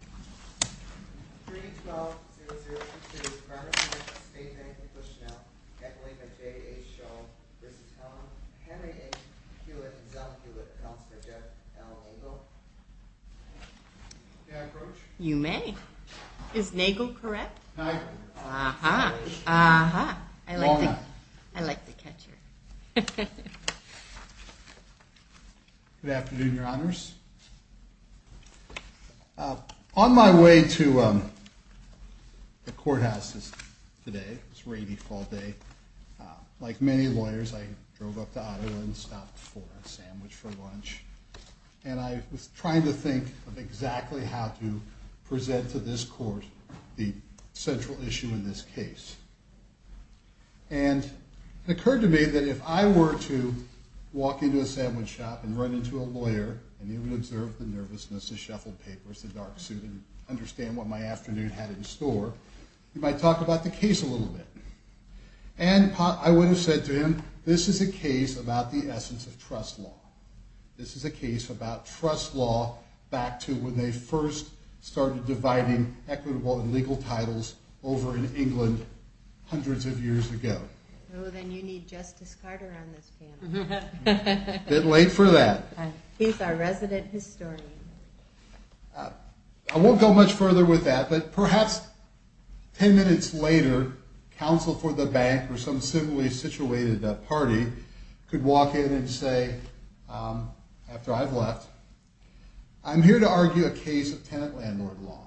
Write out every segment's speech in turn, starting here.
Can I approach? You may. Is Nagel correct? Good afternoon, your honors. On my way to the courthouse today, it's a rainy fall day, like many lawyers I drove up to Ottawa and stopped for a sandwich for lunch. And I was trying to think of exactly how to present to this court the central issue in this case. And it occurred to me that if I were to walk into a sandwich shop and run into a lawyer, and he would observe the nervousness, the shuffled papers, the dark suit, and understand what my afternoon had in store, he might talk about the case a little bit. And I would have said to him, this is a case about the essence of trust law. This is a case about trust law back to when they first started dividing equitable and legal titles over in England hundreds of years ago. Oh, then you need Justice Carter on this panel. A bit late for that. He's our resident historian. I won't go much further with that, but perhaps 10 minutes later, counsel for the bank or some similarly situated party could walk in and say, after I've left, I'm here to argue a case of tenant landlord law.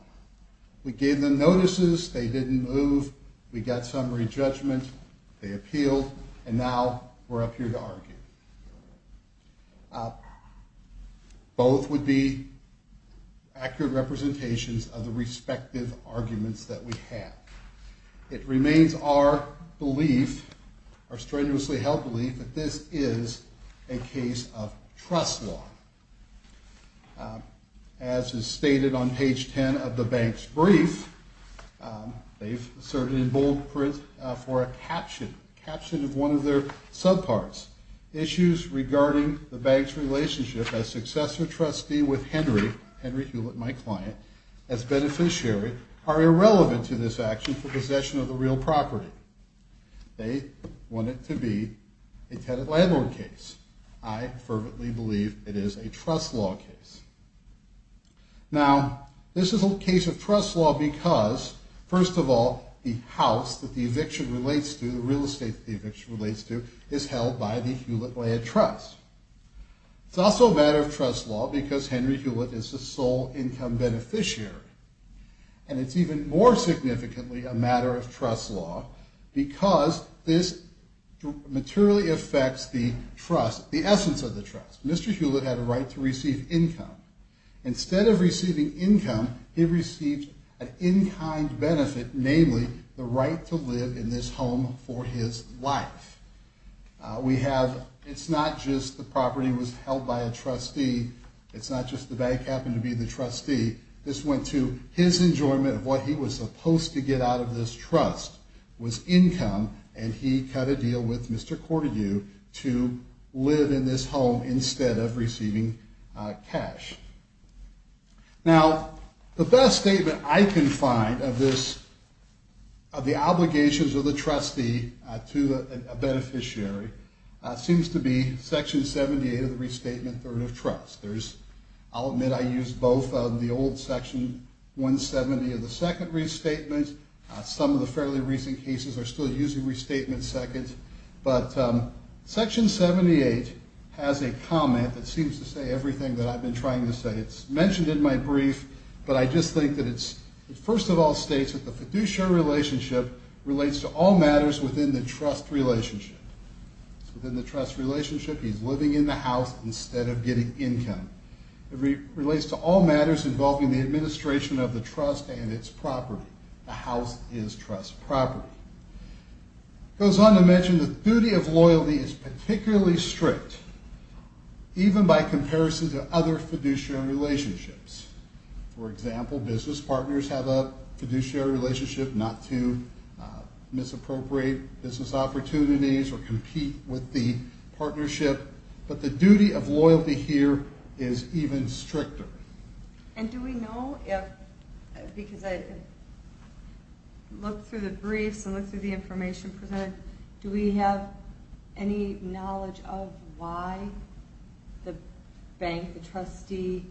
We gave them notices. They didn't move. We got summary judgment. They appealed. And now we're up here to argue. Both would be accurate representations of the respective arguments that we have. It remains our belief, our strenuously held belief, that this is a case of trust law. As is stated on page 10 of the bank's brief, they've asserted in bold print for a caption, a caption of one of their subparts. Issues regarding the bank's relationship as successor trustee with Henry, Henry Hewlett, my client, as beneficiary, are irrelevant to this action for possession of the real property. They want it to be a tenant landlord case. I fervently believe it is a trust law case. Now, this is a case of trust law because, first of all, the house that the eviction relates to, the real estate that the eviction relates to, is held by the Hewlett Land Trust. It's also a matter of trust law because Henry Hewlett is the sole income beneficiary. And it's even more significantly a matter of trust law because this materially affects the trust, the essence of the trust. Mr. Hewlett had a right to receive income. Instead of receiving income, he received an in-kind benefit, namely the right to live in this home for his life. We have, it's not just the property was held by a trustee. It's not just the bank happened to be the trustee. This went to his enjoyment of what he was supposed to get out of this trust was income. And he cut a deal with Mr. Cordu to live in this home instead of receiving cash. Now, the best statement I can find of this, of the obligations of the trustee to a beneficiary, seems to be Section 78 of the Restatement Third of Trust. There's, I'll admit I use both of the old Section 170 of the Second Restatement. Some of the fairly recent cases are still using Restatement Seconds. But Section 78 has a comment that seems to say everything that I've been trying to say. It's mentioned in my brief, but I just think that it's, first of all, states that the fiduciary relationship relates to all matters within the trust relationship. It's within the trust relationship. He's living in the house instead of getting income. It relates to all matters involving the administration of the trust and its property. The house is trust property. It goes on to mention the duty of loyalty is particularly strict, even by comparison to other fiduciary relationships. For example, business partners have a fiduciary relationship not to misappropriate business opportunities or compete with the partnership. But the duty of loyalty here is even stricter. And do we know if, because I looked through the briefs and looked through the information presented, do we have any knowledge of why the bank, the trustee,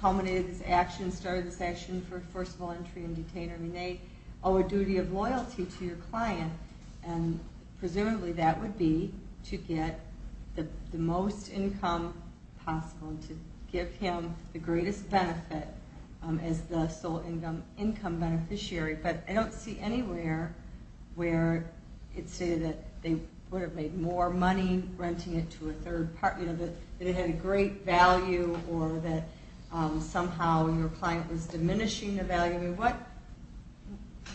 culminated this action, started this action for, first of all, entry and detainer. I mean, they owe a duty of loyalty to your client, and presumably that would be to get the most income possible and to give him the greatest benefit as the sole income beneficiary. But I don't see anywhere where it's stated that they would have made more money renting it to a third partner, that it had a great value or that somehow your client was diminishing the value. I mean,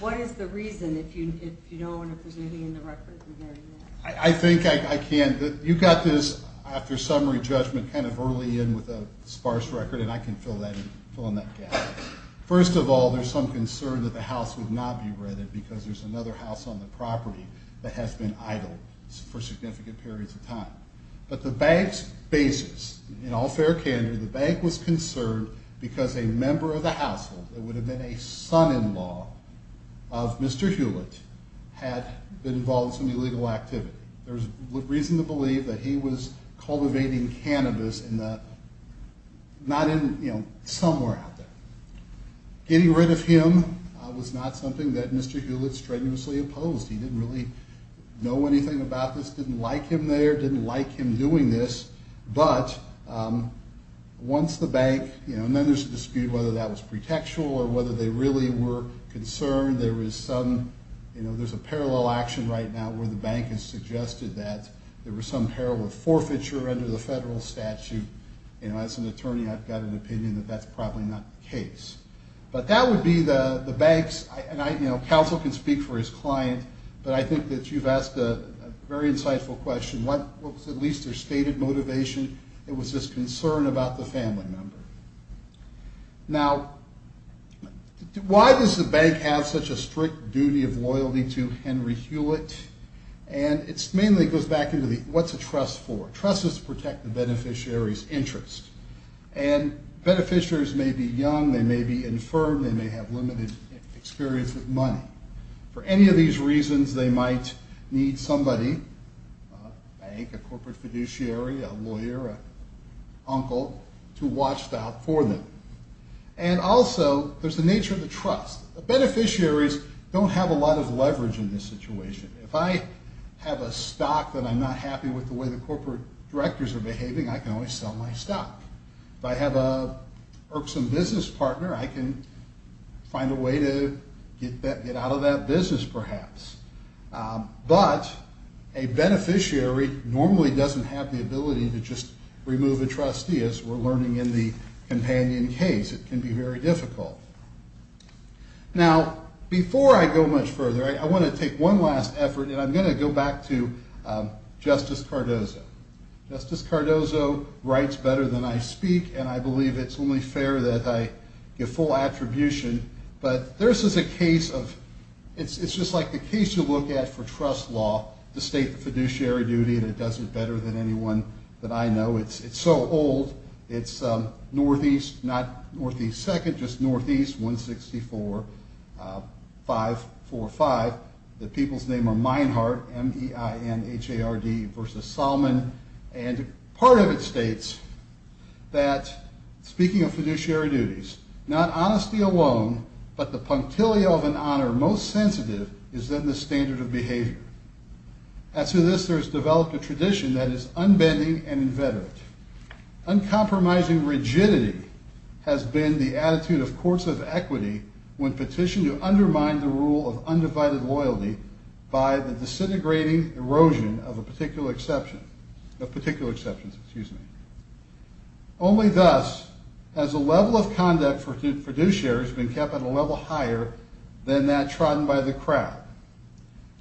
what is the reason if you don't want to present any of the records regarding that? I think I can. You got this after summary judgment kind of early in with a sparse record, and I can fill in that gap. First of all, there's some concern that the house would not be rented because there's another house on the property that has been idle for significant periods of time. But the bank's basis, in all fair candor, the bank was concerned because a member of the household, it would have been a son-in-law of Mr. Hewlett, had been involved in some illegal activity. There's reason to believe that he was cultivating cannabis somewhere out there. Getting rid of him was not something that Mr. Hewlett strenuously opposed. He didn't really know anything about this, didn't like him there, didn't like him doing this. But once the bank, and then there's a dispute whether that was pretextual or whether they really were concerned. There's a parallel action right now where the bank has suggested that there was some parallel forfeiture under the federal statute. As an attorney, I've got an opinion that that's probably not the case. But that would be the bank's, and counsel can speak for his client, but I think that you've asked a very insightful question. What was at least their stated motivation? It was this concern about the family member. Now, why does the bank have such a strict duty of loyalty to Henry Hewlett? And it mainly goes back into the, what's a trust for? Trust is to protect the beneficiary's interest. And beneficiaries may be young, they may be infirm, they may have limited experience with money. For any of these reasons, they might need somebody, a bank, a corporate fiduciary, a lawyer, an uncle, to watch out for them. And also, there's the nature of the trust. The beneficiaries don't have a lot of leverage in this situation. If I have a stock that I'm not happy with the way the corporate directors are behaving, I can always sell my stock. If I have an irksome business partner, I can find a way to get out of that business, perhaps. But a beneficiary normally doesn't have the ability to just remove a trustee, as we're learning in the companion case. It can be very difficult. Now, before I go much further, I want to take one last effort, and I'm going to go back to Justice Cardozo. Justice Cardozo writes better than I speak, and I believe it's only fair that I give full attribution. But this is a case of, it's just like the case you look at for trust law, the state fiduciary duty, and it does it better than anyone that I know. It's so old. It's Northeast, not Northeast Second, just Northeast 164545. The people's name are Meinhardt, M-E-I-N-H-A-R-D, versus Salman. And part of it states that, speaking of fiduciary duties, not honesty alone, but the punctilia of an honor most sensitive is then the standard of behavior. As to this, there has developed a tradition that is unbending and inveterate. Uncompromising rigidity has been the attitude of courts of equity when petitioned to undermine the rule of undivided loyalty by the disintegrating erosion of particular exceptions. Only thus has the level of conduct for fiduciaries been kept at a level higher than that trodden by the crowd.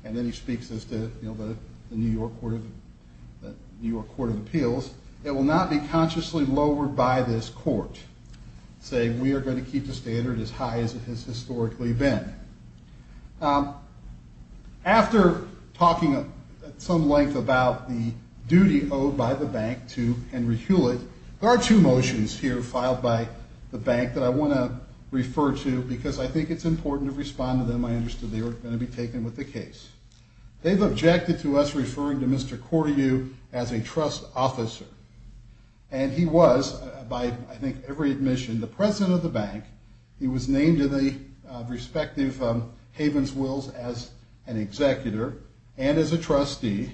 And then he speaks as to the New York Court of Appeals. It will not be consciously lowered by this court, saying we are going to keep the standard as high as it has historically been. After talking at some length about the duty owed by the bank to Henry Hewlett, there are two motions here filed by the bank that I want to refer to, because I think it's important to respond to them. I understood they were going to be taken with the case. They've objected to us referring to Mr. Coriou as a trust officer. And he was, by I think every admission, the president of the bank. He was named in the respective havens wills as an executor and as a trustee.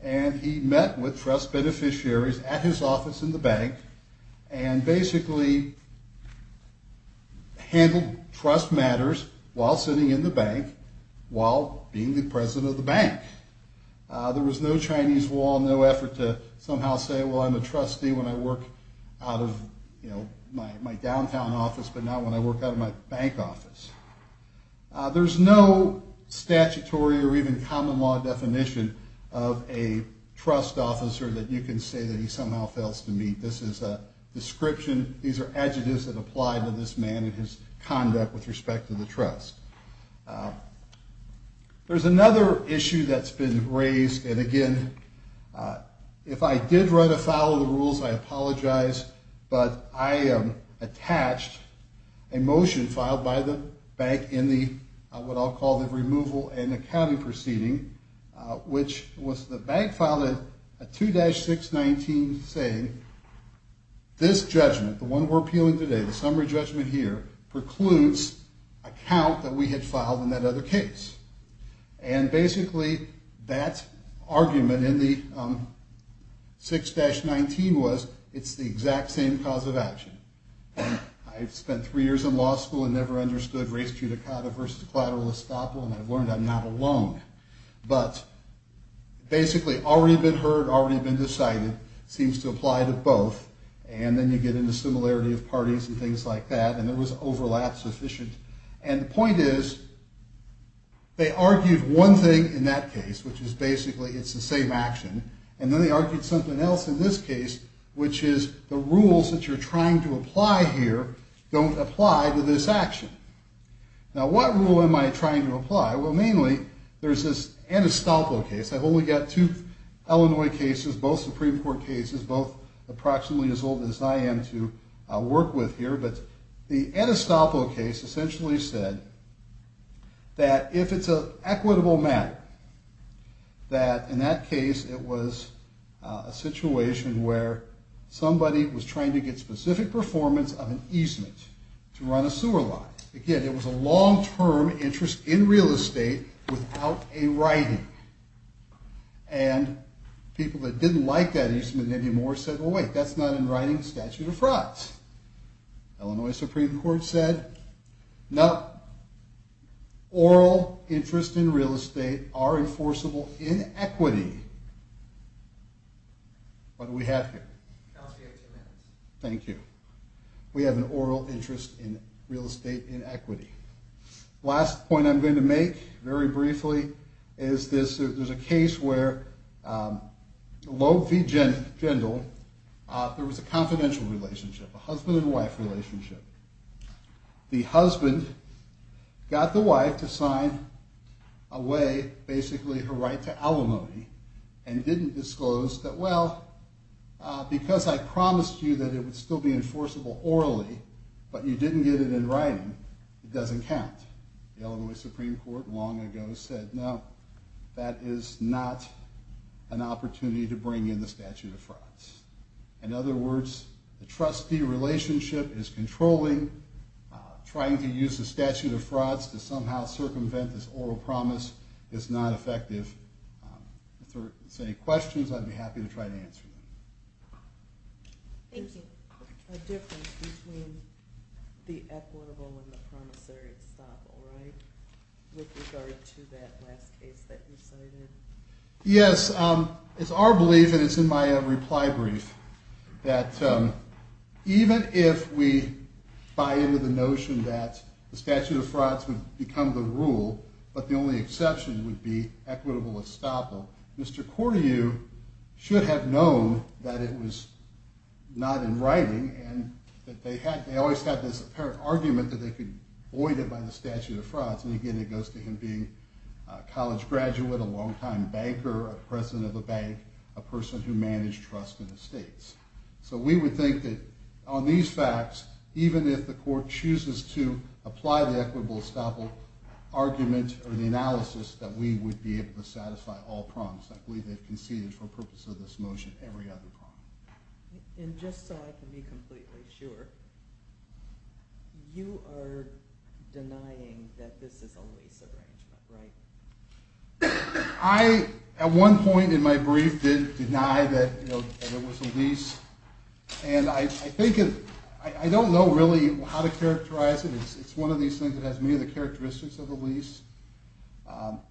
And he met with trust beneficiaries at his office in the bank and basically handled trust matters while sitting in the bank, while being the president of the bank. There was no Chinese wall, no effort to somehow say, well, I'm a trustee when I work out of my downtown office, but not when I work out of my bank office. There's no statutory or even common law definition of a trust officer that you can say that he somehow fails to meet. This is a description. These are adjectives that apply to this man and his conduct with respect to the trust. There's another issue that's been raised. And, again, if I did run afoul of the rules, I apologize. But I am attached a motion filed by the bank in the what I'll call the removal and accounting proceeding, which was the bank filed a 2-619 saying this judgment, the one we're appealing today, the summary judgment here, precludes a count that we had filed in that other case. And, basically, that argument in the 6-19 was it's the exact same cause of action. I've spent three years in law school and never understood res judicata versus collateral estoppel, and I've learned I'm not alone. But, basically, already been heard, already been decided seems to apply to both. And then you get into similarity of parties and things like that. And there was overlap sufficient. And the point is they argued one thing in that case, which is basically it's the same action. And then they argued something else in this case, which is the rules that you're trying to apply here don't apply to this action. Now, what rule am I trying to apply? Well, mainly, there's this Enestoppel case. I've only got two Illinois cases, both Supreme Court cases, both approximately as old as I am to work with here. But the Enestoppel case essentially said that if it's an equitable matter, that in that case, it was a situation where somebody was trying to get specific performance of an easement to run a sewer line. Again, it was a long-term interest in real estate without a writing. And people that didn't like that easement anymore said, well, wait, that's not in writing statute of frauds. Illinois Supreme Court said, no, oral interest in real estate are enforceable in equity. What do we have here? Thank you. We have an oral interest in real estate in equity. Last point I'm going to make very briefly is this. There's a case where Loeb v. Jindal, there was a confidential relationship, a husband and wife relationship. The husband got the wife to sign away basically her right to alimony and didn't disclose that, well, because I promised you that it would still be enforceable orally, but you didn't get it in writing, it doesn't count. The Illinois Supreme Court long ago said, no, that is not an opportunity to bring in the statute of frauds. In other words, the trustee relationship is controlling. Trying to use the statute of frauds to somehow circumvent this oral promise is not effective. If there's any questions, I'd be happy to try to answer them. Thank you. A difference between the equitable and the promissory stop, all right, with regard to that last case that you cited. Yes, it's our belief, and it's in my reply brief, that even if we buy into the notion that the statute of frauds would become the rule, but the only exception would be equitable estoppel, Mr. Cordayew should have known that it was not in writing and that they always had this apparent argument that they could void it by the statute of frauds. And again, it goes to him being a college graduate, a longtime banker, a president of a bank, a person who managed trust in estates. So we would think that on these facts, even if the court chooses to apply the equitable estoppel argument or the analysis, that we would be able to satisfy all promises. I believe they've conceded for the purpose of this motion every other promise. And just so I can be completely sure, you are denying that this is a lease arrangement, right? I, at one point in my brief, did deny that it was a lease. And I don't know really how to characterize it. It's one of these things that has many of the characteristics of a lease.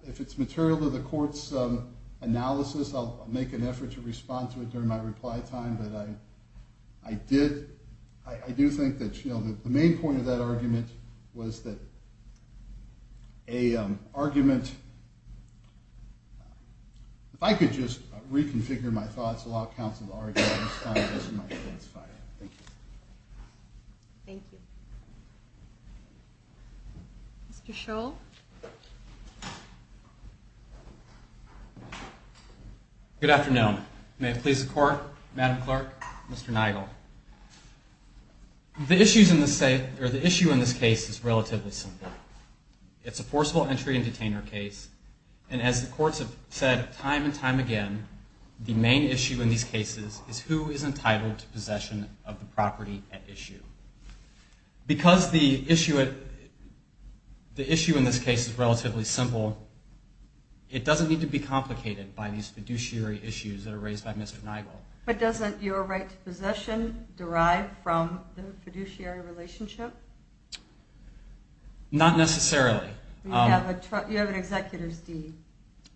If it's material to the court's analysis, I'll make an effort to respond to it during my reply time. But I do think that the main point of that argument was that a argument – if I could just reconfigure my thoughts a lot, counsel, the argument this time doesn't really satisfy that. Thank you. Thank you. Mr. Shull? Good afternoon. May it please the Court, Madam Clerk, Mr. Nigel. The issue in this case is relatively simple. It's a forcible entry and detainer case. And as the courts have said time and time again, the main issue in these cases is who is entitled to possession of the property at issue. Because the issue in this case is relatively simple, it doesn't need to be complicated by these fiduciary issues that are raised by Mr. Nigel. But doesn't your right to possession derive from the fiduciary relationship? Not necessarily. You have an executor's deed.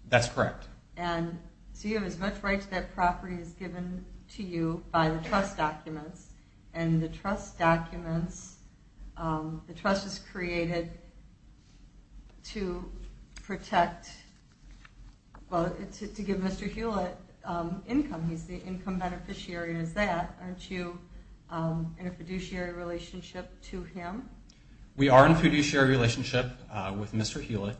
That's correct. And so you have as much right to that property as is given to you by the trust documents. And the trust documents – the trust was created to protect – well, to give Mr. Hewlett income. He's the income beneficiary of that. Aren't you in a fiduciary relationship to him? We are in a fiduciary relationship with Mr. Hewlett.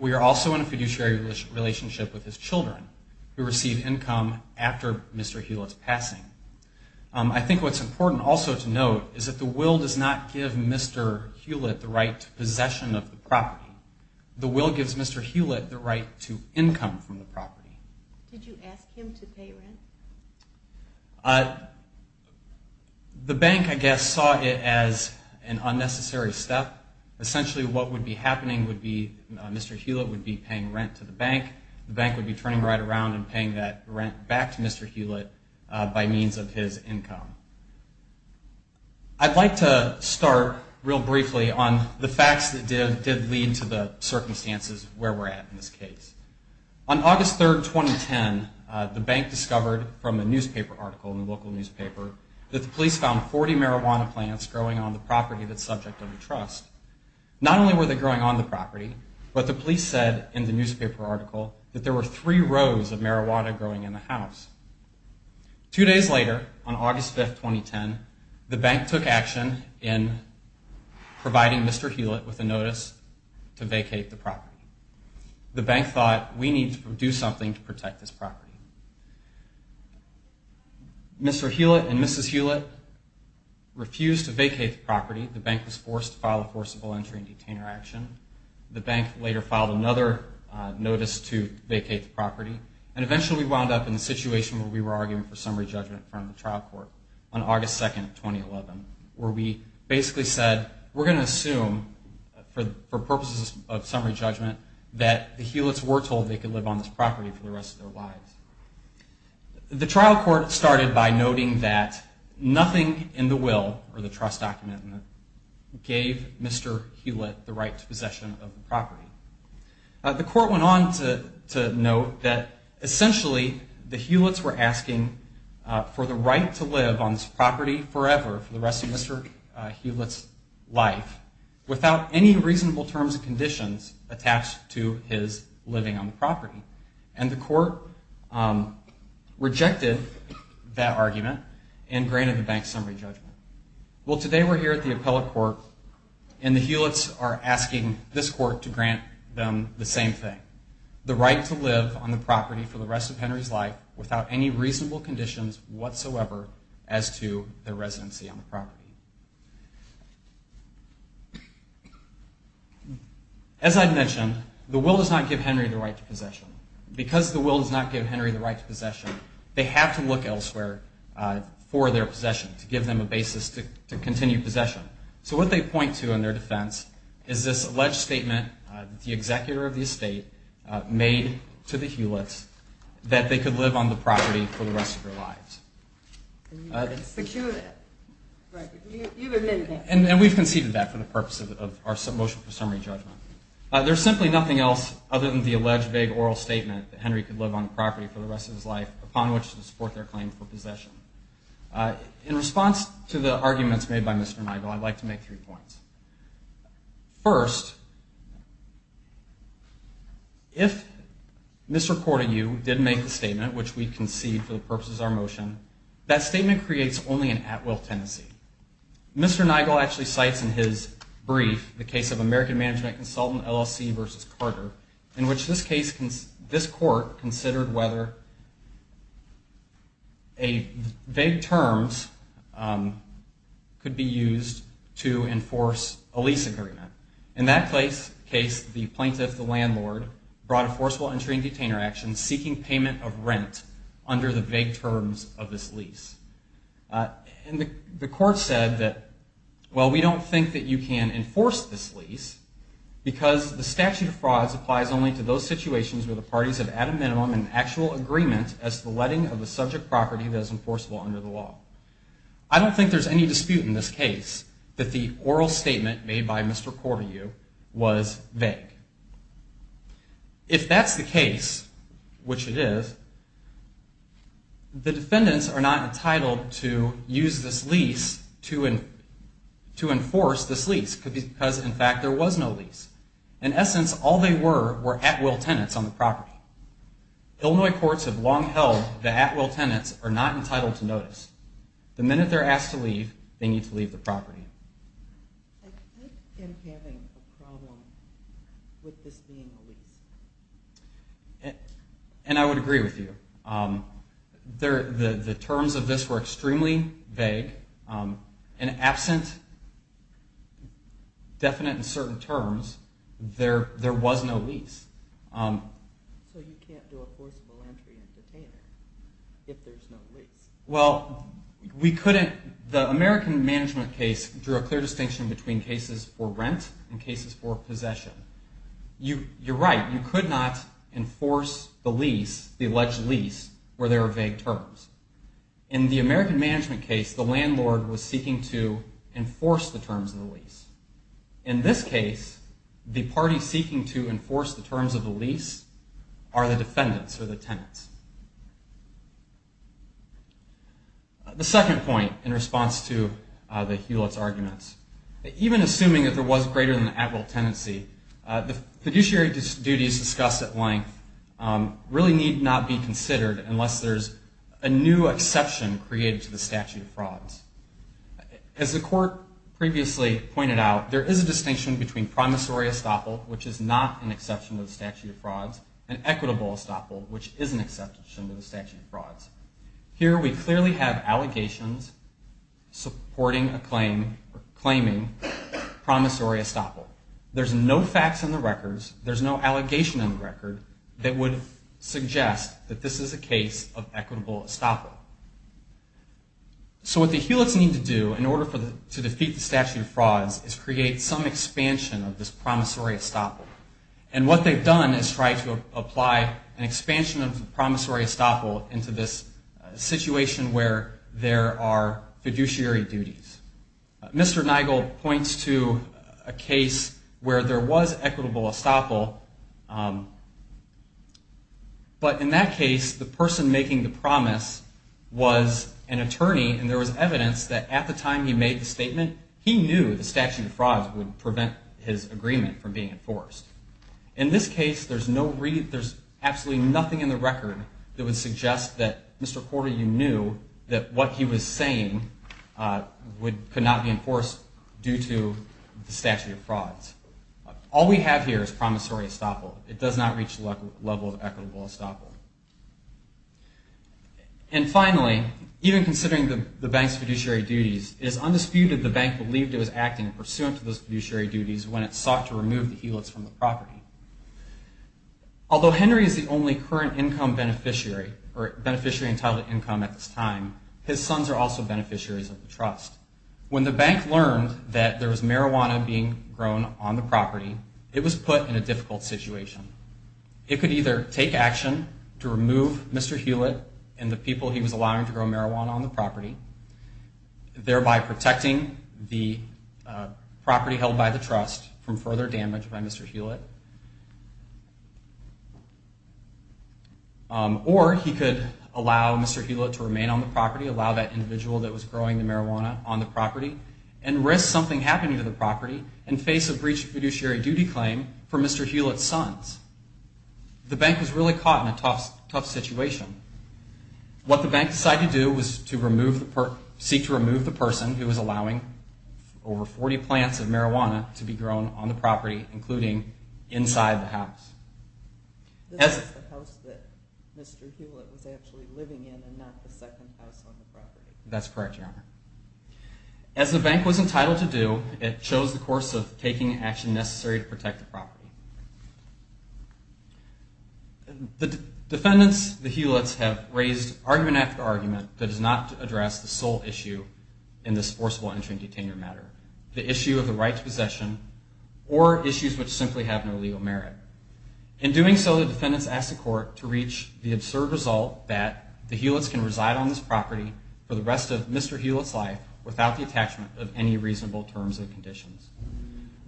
We are also in a fiduciary relationship with his children who receive income after Mr. Hewlett's passing. I think what's important also to note is that the will does not give Mr. Hewlett the right to possession of the property. The will gives Mr. Hewlett the right to income from the property. Did you ask him to pay rent? The bank, I guess, saw it as an unnecessary step. Essentially what would be happening would be Mr. Hewlett would be paying rent to the bank. The bank would be turning right around and paying that rent back to Mr. Hewlett by means of his income. I'd like to start real briefly on the facts that did lead to the circumstances where we're at in this case. On August 3, 2010, the bank discovered from a newspaper article in a local newspaper that the police found 40 marijuana plants growing on the property that's subject of the trust. Not only were they growing on the property, but the police said in the newspaper article that there were three rows of marijuana growing in the house. Two days later, on August 5, 2010, the bank took action in providing Mr. Hewlett with a notice to vacate the property. The bank thought, we need to do something to protect this property. Mr. Hewlett and Mrs. Hewlett refused to vacate the property. The bank was forced to file a forcible entry and detainer action. The bank later filed another notice to vacate the property. Eventually we wound up in a situation where we were arguing for summary judgment in front of the trial court on August 2, 2011, where we basically said, we're going to assume for purposes of summary judgment that the Hewlett's were told that they could live on this property for the rest of their lives. The trial court started by noting that nothing in the will, or the trust document, gave Mr. Hewlett the right to possession of the property. The court went on to note that essentially the Hewlett's were asking for the right to live on this property forever, for the rest of Mr. Hewlett's life, without any reasonable terms and conditions attached to his living on the property. And the court rejected that argument and granted the bank summary judgment. Well, today we're here at the appellate court and the Hewlett's are asking this court to grant them the same thing. The right to live on the property for the rest of Henry's life without any reasonable conditions whatsoever as to their residency on the property. As I mentioned, the will does not give Henry the right to possession. Because the will does not give Henry the right to possession, they have to look elsewhere for their possession to give them a basis to continue possession. So what they point to in their defense is this alleged statement that the executor of the estate made to the Hewlett's that they could live on the property for the rest of their lives. And we've conceded that for the purpose of our motion for summary judgment. There's simply nothing else other than the alleged vague oral statement that Henry could live on the property for the rest of his life, upon which to support their claim for possession. In response to the arguments made by Mr. Nigel, I'd like to make three points. First, if Mr. Korteyu did make the statement, which we concede for the purposes of our motion, that statement creates only an at-will tendency. Mr. Nigel actually cites in his brief the case of American Management Consultant LLC v. Carter, in which this court considered whether vague terms could be used to enforce a lease agreement. In that case, the plaintiff, the landlord, brought a forcible entry and detainer action seeking payment of rent under the vague terms of this lease. And the court said that, well, we don't think that you can enforce this lease because the statute of frauds applies only to those situations where the parties have, at a minimum, an actual agreement as to the letting of the subject property that is enforceable under the law. I don't think there's any dispute in this case that the oral statement made by Mr. Korteyu was vague. If that's the case, which it is, the defendants are not entitled to use this lease to enforce this lease because, in fact, there was no lease. In essence, all they were were at-will tenants on the property. Illinois courts have long held that at-will tenants are not entitled to notice. The minute they're asked to leave, they need to leave the property. I think I'm having a problem with this being a lease. And I would agree with you. The terms of this were extremely vague, and absent definite and certain terms, there was no lease. So you can't do a forcible entry and detainer if there's no lease. Well, we couldn't. The American management case drew a clear distinction between cases for rent and cases for possession. You're right. You could not enforce the lease, the alleged lease, where there are vague terms. In the American management case, the landlord was seeking to enforce the terms of the lease. In this case, the party seeking to enforce the terms of the lease are the defendants or the tenants. The second point in response to the Hewlett's arguments, even assuming that there was greater than the at-will tenancy, the fiduciary duties discussed at length really need not be considered unless there's a new exception created to the statute of frauds. As the court previously pointed out, there is a distinction between promissory estoppel, which is not an exception to the statute of frauds, and equitable estoppel, which is an exception to the statute of frauds. Here we clearly have allegations supporting a claim or claiming promissory estoppel. There's no facts in the records. There's no allegation in the record that would suggest that this is a case of equitable estoppel. So what the Hewlett's need to do in order to defeat the statute of frauds is create some expansion of this promissory estoppel. And what they've done is try to apply an expansion of the promissory estoppel into this situation where there are fiduciary duties. Mr. Nigel points to a case where there was equitable estoppel, but in that case, the person making the promise was an attorney, and there was evidence that at the time he made the statement, he knew the statute of frauds would prevent his agreement from being enforced. In this case, there's absolutely nothing in the record that would suggest that Mr. Porter, you knew that what he was saying could not be enforced due to the statute of frauds. All we have here is promissory estoppel. It does not reach the level of equitable estoppel. And finally, even considering the bank's fiduciary duties, it is undisputed the bank believed it was acting pursuant to those fiduciary duties when it sought to remove the Hewlett's from the property. Although Henry is the only current income beneficiary, or beneficiary entitled to income at this time, his sons are also beneficiaries of the trust. When the bank learned that there was marijuana being grown on the property, it was put in a difficult situation. It could either take action to remove Mr. Hewlett and the people he was allowing to grow marijuana on the property, thereby protecting the property held by the trust from further damage by Mr. Hewlett, or he could allow Mr. Hewlett to remain on the property, allow that individual that was growing the marijuana on the property, and risk something happening to the property and face a breach of fiduciary duty claim for Mr. Hewlett's sons. The bank was really caught in a tough situation. What the bank decided to do was to seek to remove the person who was allowing over 40 plants of marijuana to be grown on the property, including inside the house. This is the house that Mr. Hewlett was actually living in and not the second house on the property. That's correct, Your Honor. As the bank was entitled to do, it chose the course of taking action necessary to protect the property. The defendants, the Hewlett's, have raised argument after argument that does not address the sole issue in this forcible entry and detainment matter, the issue of the right to possession, or issues which simply have no legal merit. In doing so, the defendants asked the court to reach the absurd result that the Hewlett's can reside on this property for the rest of Mr. Hewlett's life without the attachment of any reasonable terms and conditions.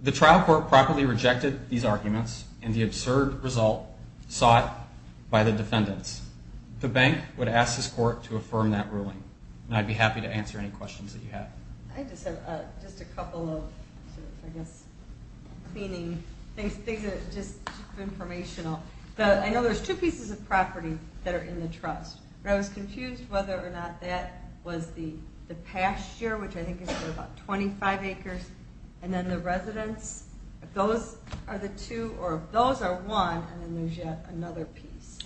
The trial court properly rejected these arguments and the absurd result sought by the defendants. The bank would ask this court to affirm that ruling, and I'd be happy to answer any questions that you have. I just have a couple of, I guess, cleaning things that are just informational. I know there's two pieces of property that are in the trust, but I was confused whether or not that was the pasture, which I think is about 25 acres, and then the residence. If those are the two, or if those are one, and then there's yet another piece.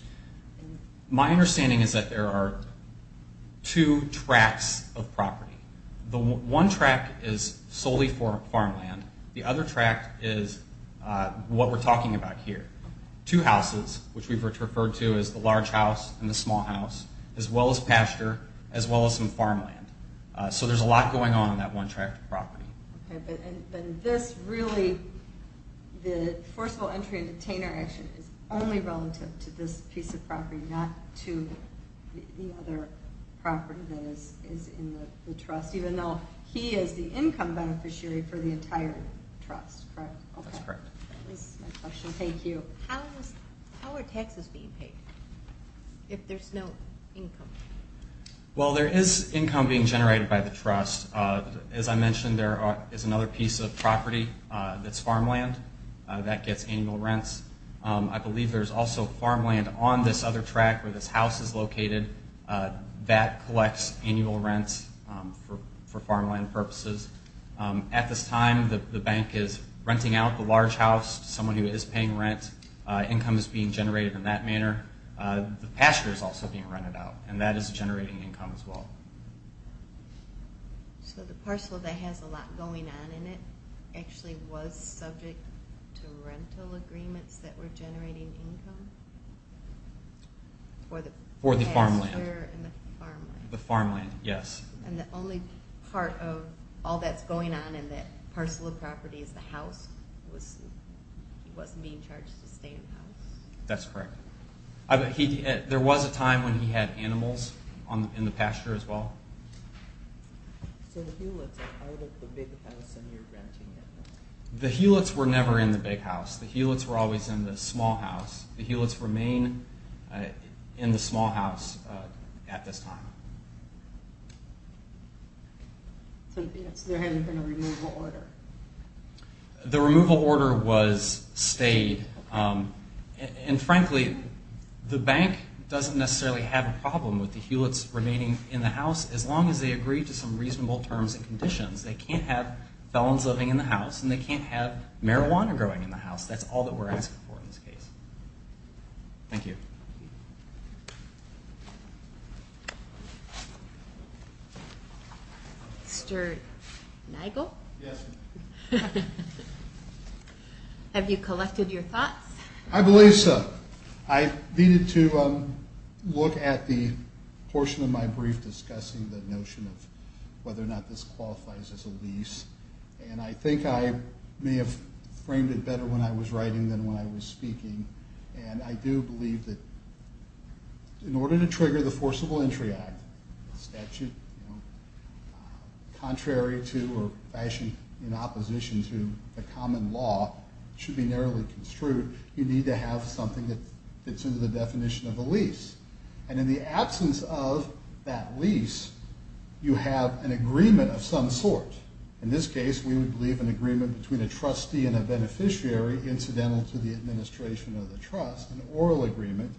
The one tract is solely for farmland. The other tract is what we're talking about here, two houses, which we've referred to as the large house and the small house, as well as pasture, as well as some farmland. So there's a lot going on in that one tract of property. Okay, but this really, the forcible entry and detainer action, is only relative to this piece of property, not to the other property that is in the trust, even though he is the income beneficiary for the entire trust, correct? That's correct. Thank you. How are taxes being paid if there's no income? Well, there is income being generated by the trust. As I mentioned, there is another piece of property that's farmland that gets annual rents. I believe there's also farmland on this other tract where this house is located. That collects annual rents for farmland purposes. At this time, the bank is renting out the large house to someone who is paying rent. Income is being generated in that manner. The pasture is also being rented out, and that is generating income as well. So the parcel that has a lot going on in it actually was subject to rental agreements that were generating income? For the pasture and the farmland. The farmland, yes. And the only part of all that's going on in that parcel of property is the house? He wasn't being charged to stay in the house? That's correct. There was a time when he had animals in the pasture as well. So the Hewlett's are part of the big house and you're renting it? The Hewlett's were never in the big house. The Hewlett's were always in the small house. The Hewlett's remain in the small house at this time. So there hasn't been a removal order? The removal order was stayed. And frankly, the bank doesn't necessarily have a problem with the Hewlett's remaining in the house as long as they agree to some reasonable terms and conditions. They can't have felons living in the house and they can't have marijuana growing in the house. That's all that we're asking for in this case. Thank you. Mr. Nigel? Have you collected your thoughts? I believe so. I needed to look at the portion of my brief discussing the notion of whether or not this qualifies as a lease. And I think I may have framed it better when I was writing than when I was speaking. And I do believe that in order to trigger the Forcible Entry Act, a statute contrary to or fashioned in opposition to the common law, it should be narrowly construed, you need to have something that fits into the definition of a lease. And in the absence of that lease, you have an agreement of some sort. In this case, we would leave an agreement between a trustee and a beneficiary, incidental to the administration of the trust, an oral agreement.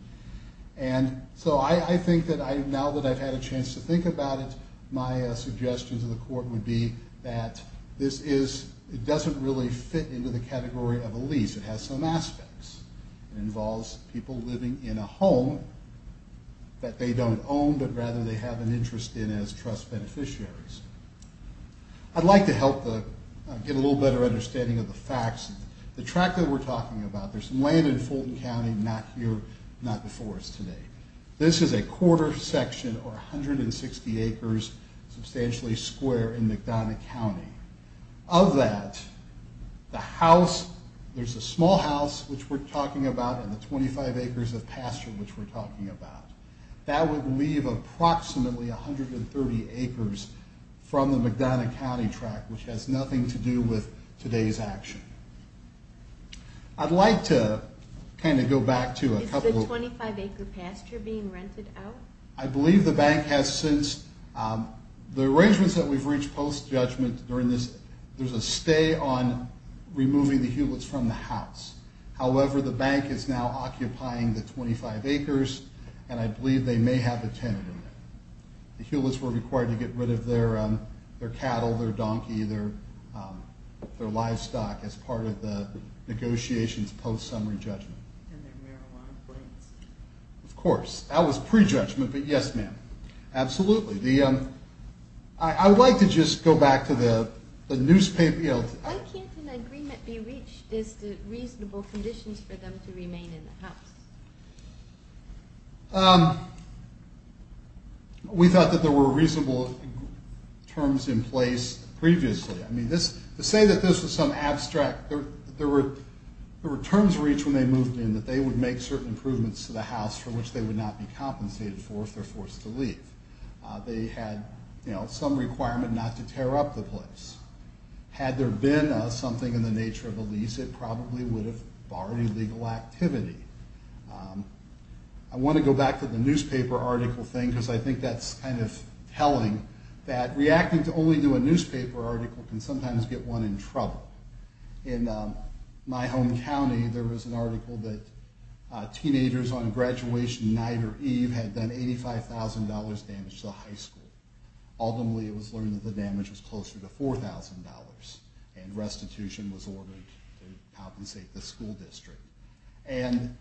And so I think that now that I've had a chance to think about it, my suggestion to the court would be that this doesn't really fit into the category of a lease. It has some aspects. It involves people living in a home that they don't own, but rather they have an interest in as trust beneficiaries. I'd like to help get a little better understanding of the facts. The tract that we're talking about, there's land in Fulton County, not here, not before us today. This is a quarter section or 160 acres, substantially square, in McDonough County. Of that, the house, there's a small house, which we're talking about, and the 25 acres of pasture, which we're talking about. That would leave approximately 130 acres from the McDonough County tract, which has nothing to do with today's action. I'd like to kind of go back to a couple of... Is the 25-acre pasture being rented out? I believe the bank has since. The arrangements that we've reached post-judgment during this, there's a stay on removing the Hewlett's from the house. However, the bank is now occupying the 25 acres, and I believe they may have a tenant in there. The Hewlett's were required to get rid of their cattle, their donkey, their livestock as part of the negotiations post-summary judgment. And their marijuana plants. That was pre-judgment, but yes, ma'am. Absolutely. I'd like to just go back to the newspaper... Why can't an agreement be reached as to reasonable conditions for them to remain in the house? We thought that there were reasonable terms in place previously. I mean, to say that this was some abstract... There were terms reached when they moved in that they would make certain improvements to the house for which they would not be compensated for if they're forced to leave. They had some requirement not to tear up the place. Had there been something in the nature of a lease, it probably would have barred illegal activity. I want to go back to the newspaper article thing because I think that's kind of telling that reacting to only do a newspaper article can sometimes get one in trouble. In my home county, there was an article that teenagers on graduation night or eve had done $85,000 damage to the high school. Ultimately, it was learned that the damage was closer to $4,000. And restitution was ordered to compensate the school district. And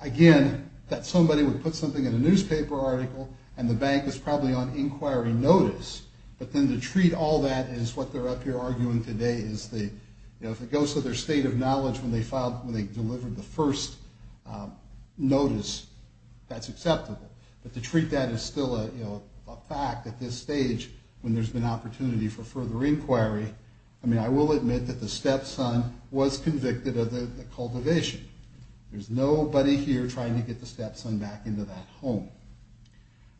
again, that somebody would put something in a newspaper article and the bank was probably on inquiry notice. But then to treat all that as what they're up here arguing today is that if it goes to their state of knowledge when they delivered the first notice, that's acceptable. But to treat that as still a fact at this stage when there's been opportunity for further inquiry, I mean, I will admit that the stepson was convicted of the cultivation. There's nobody here trying to get the stepson back into that home.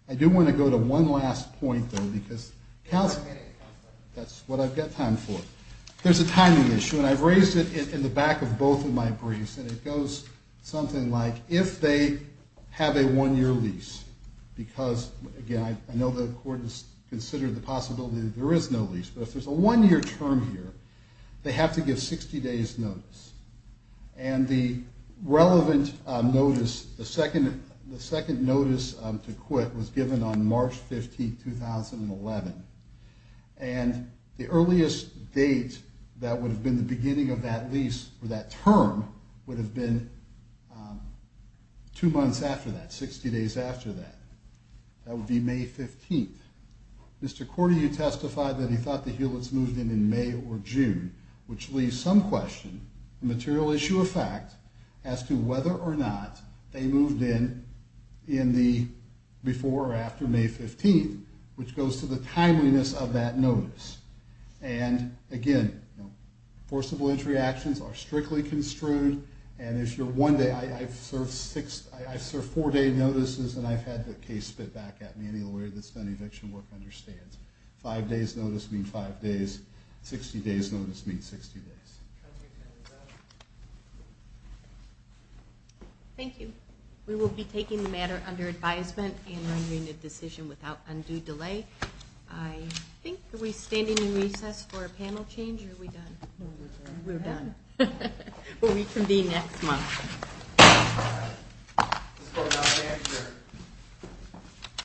I do want to go to one last point, though, because counseling, that's what I've got time for. There's a timing issue, and I've raised it in the back of both of my briefs. And it goes something like, if they have a one-year lease, because, again, I know the court has considered the possibility that there is no lease, but if there's a one-year term here, they have to give 60 days' notice. And the relevant notice, the second notice to quit was given on March 15, 2011. And the earliest date that would have been the beginning of that lease, or that term, would have been two months after that, 60 days after that. That would be May 15. Mr. Korty, you testified that he thought the Hewletts moved in in May or June, which leaves some question, a material issue of fact, as to whether or not they moved in before or after May 15, which goes to the timeliness of that notice. And, again, forcible entry actions are strictly construed. And if you're one day, I've served four-day notices, and I've had the case spit back at me. Any lawyer that's done eviction work understands. Five days' notice means five days. Sixty days' notice means 60 days. Thank you. We will be taking the matter under advisement and rendering a decision without undue delay. I think are we standing in recess for a panel change, or are we done? We're done. We'll reconvene next month.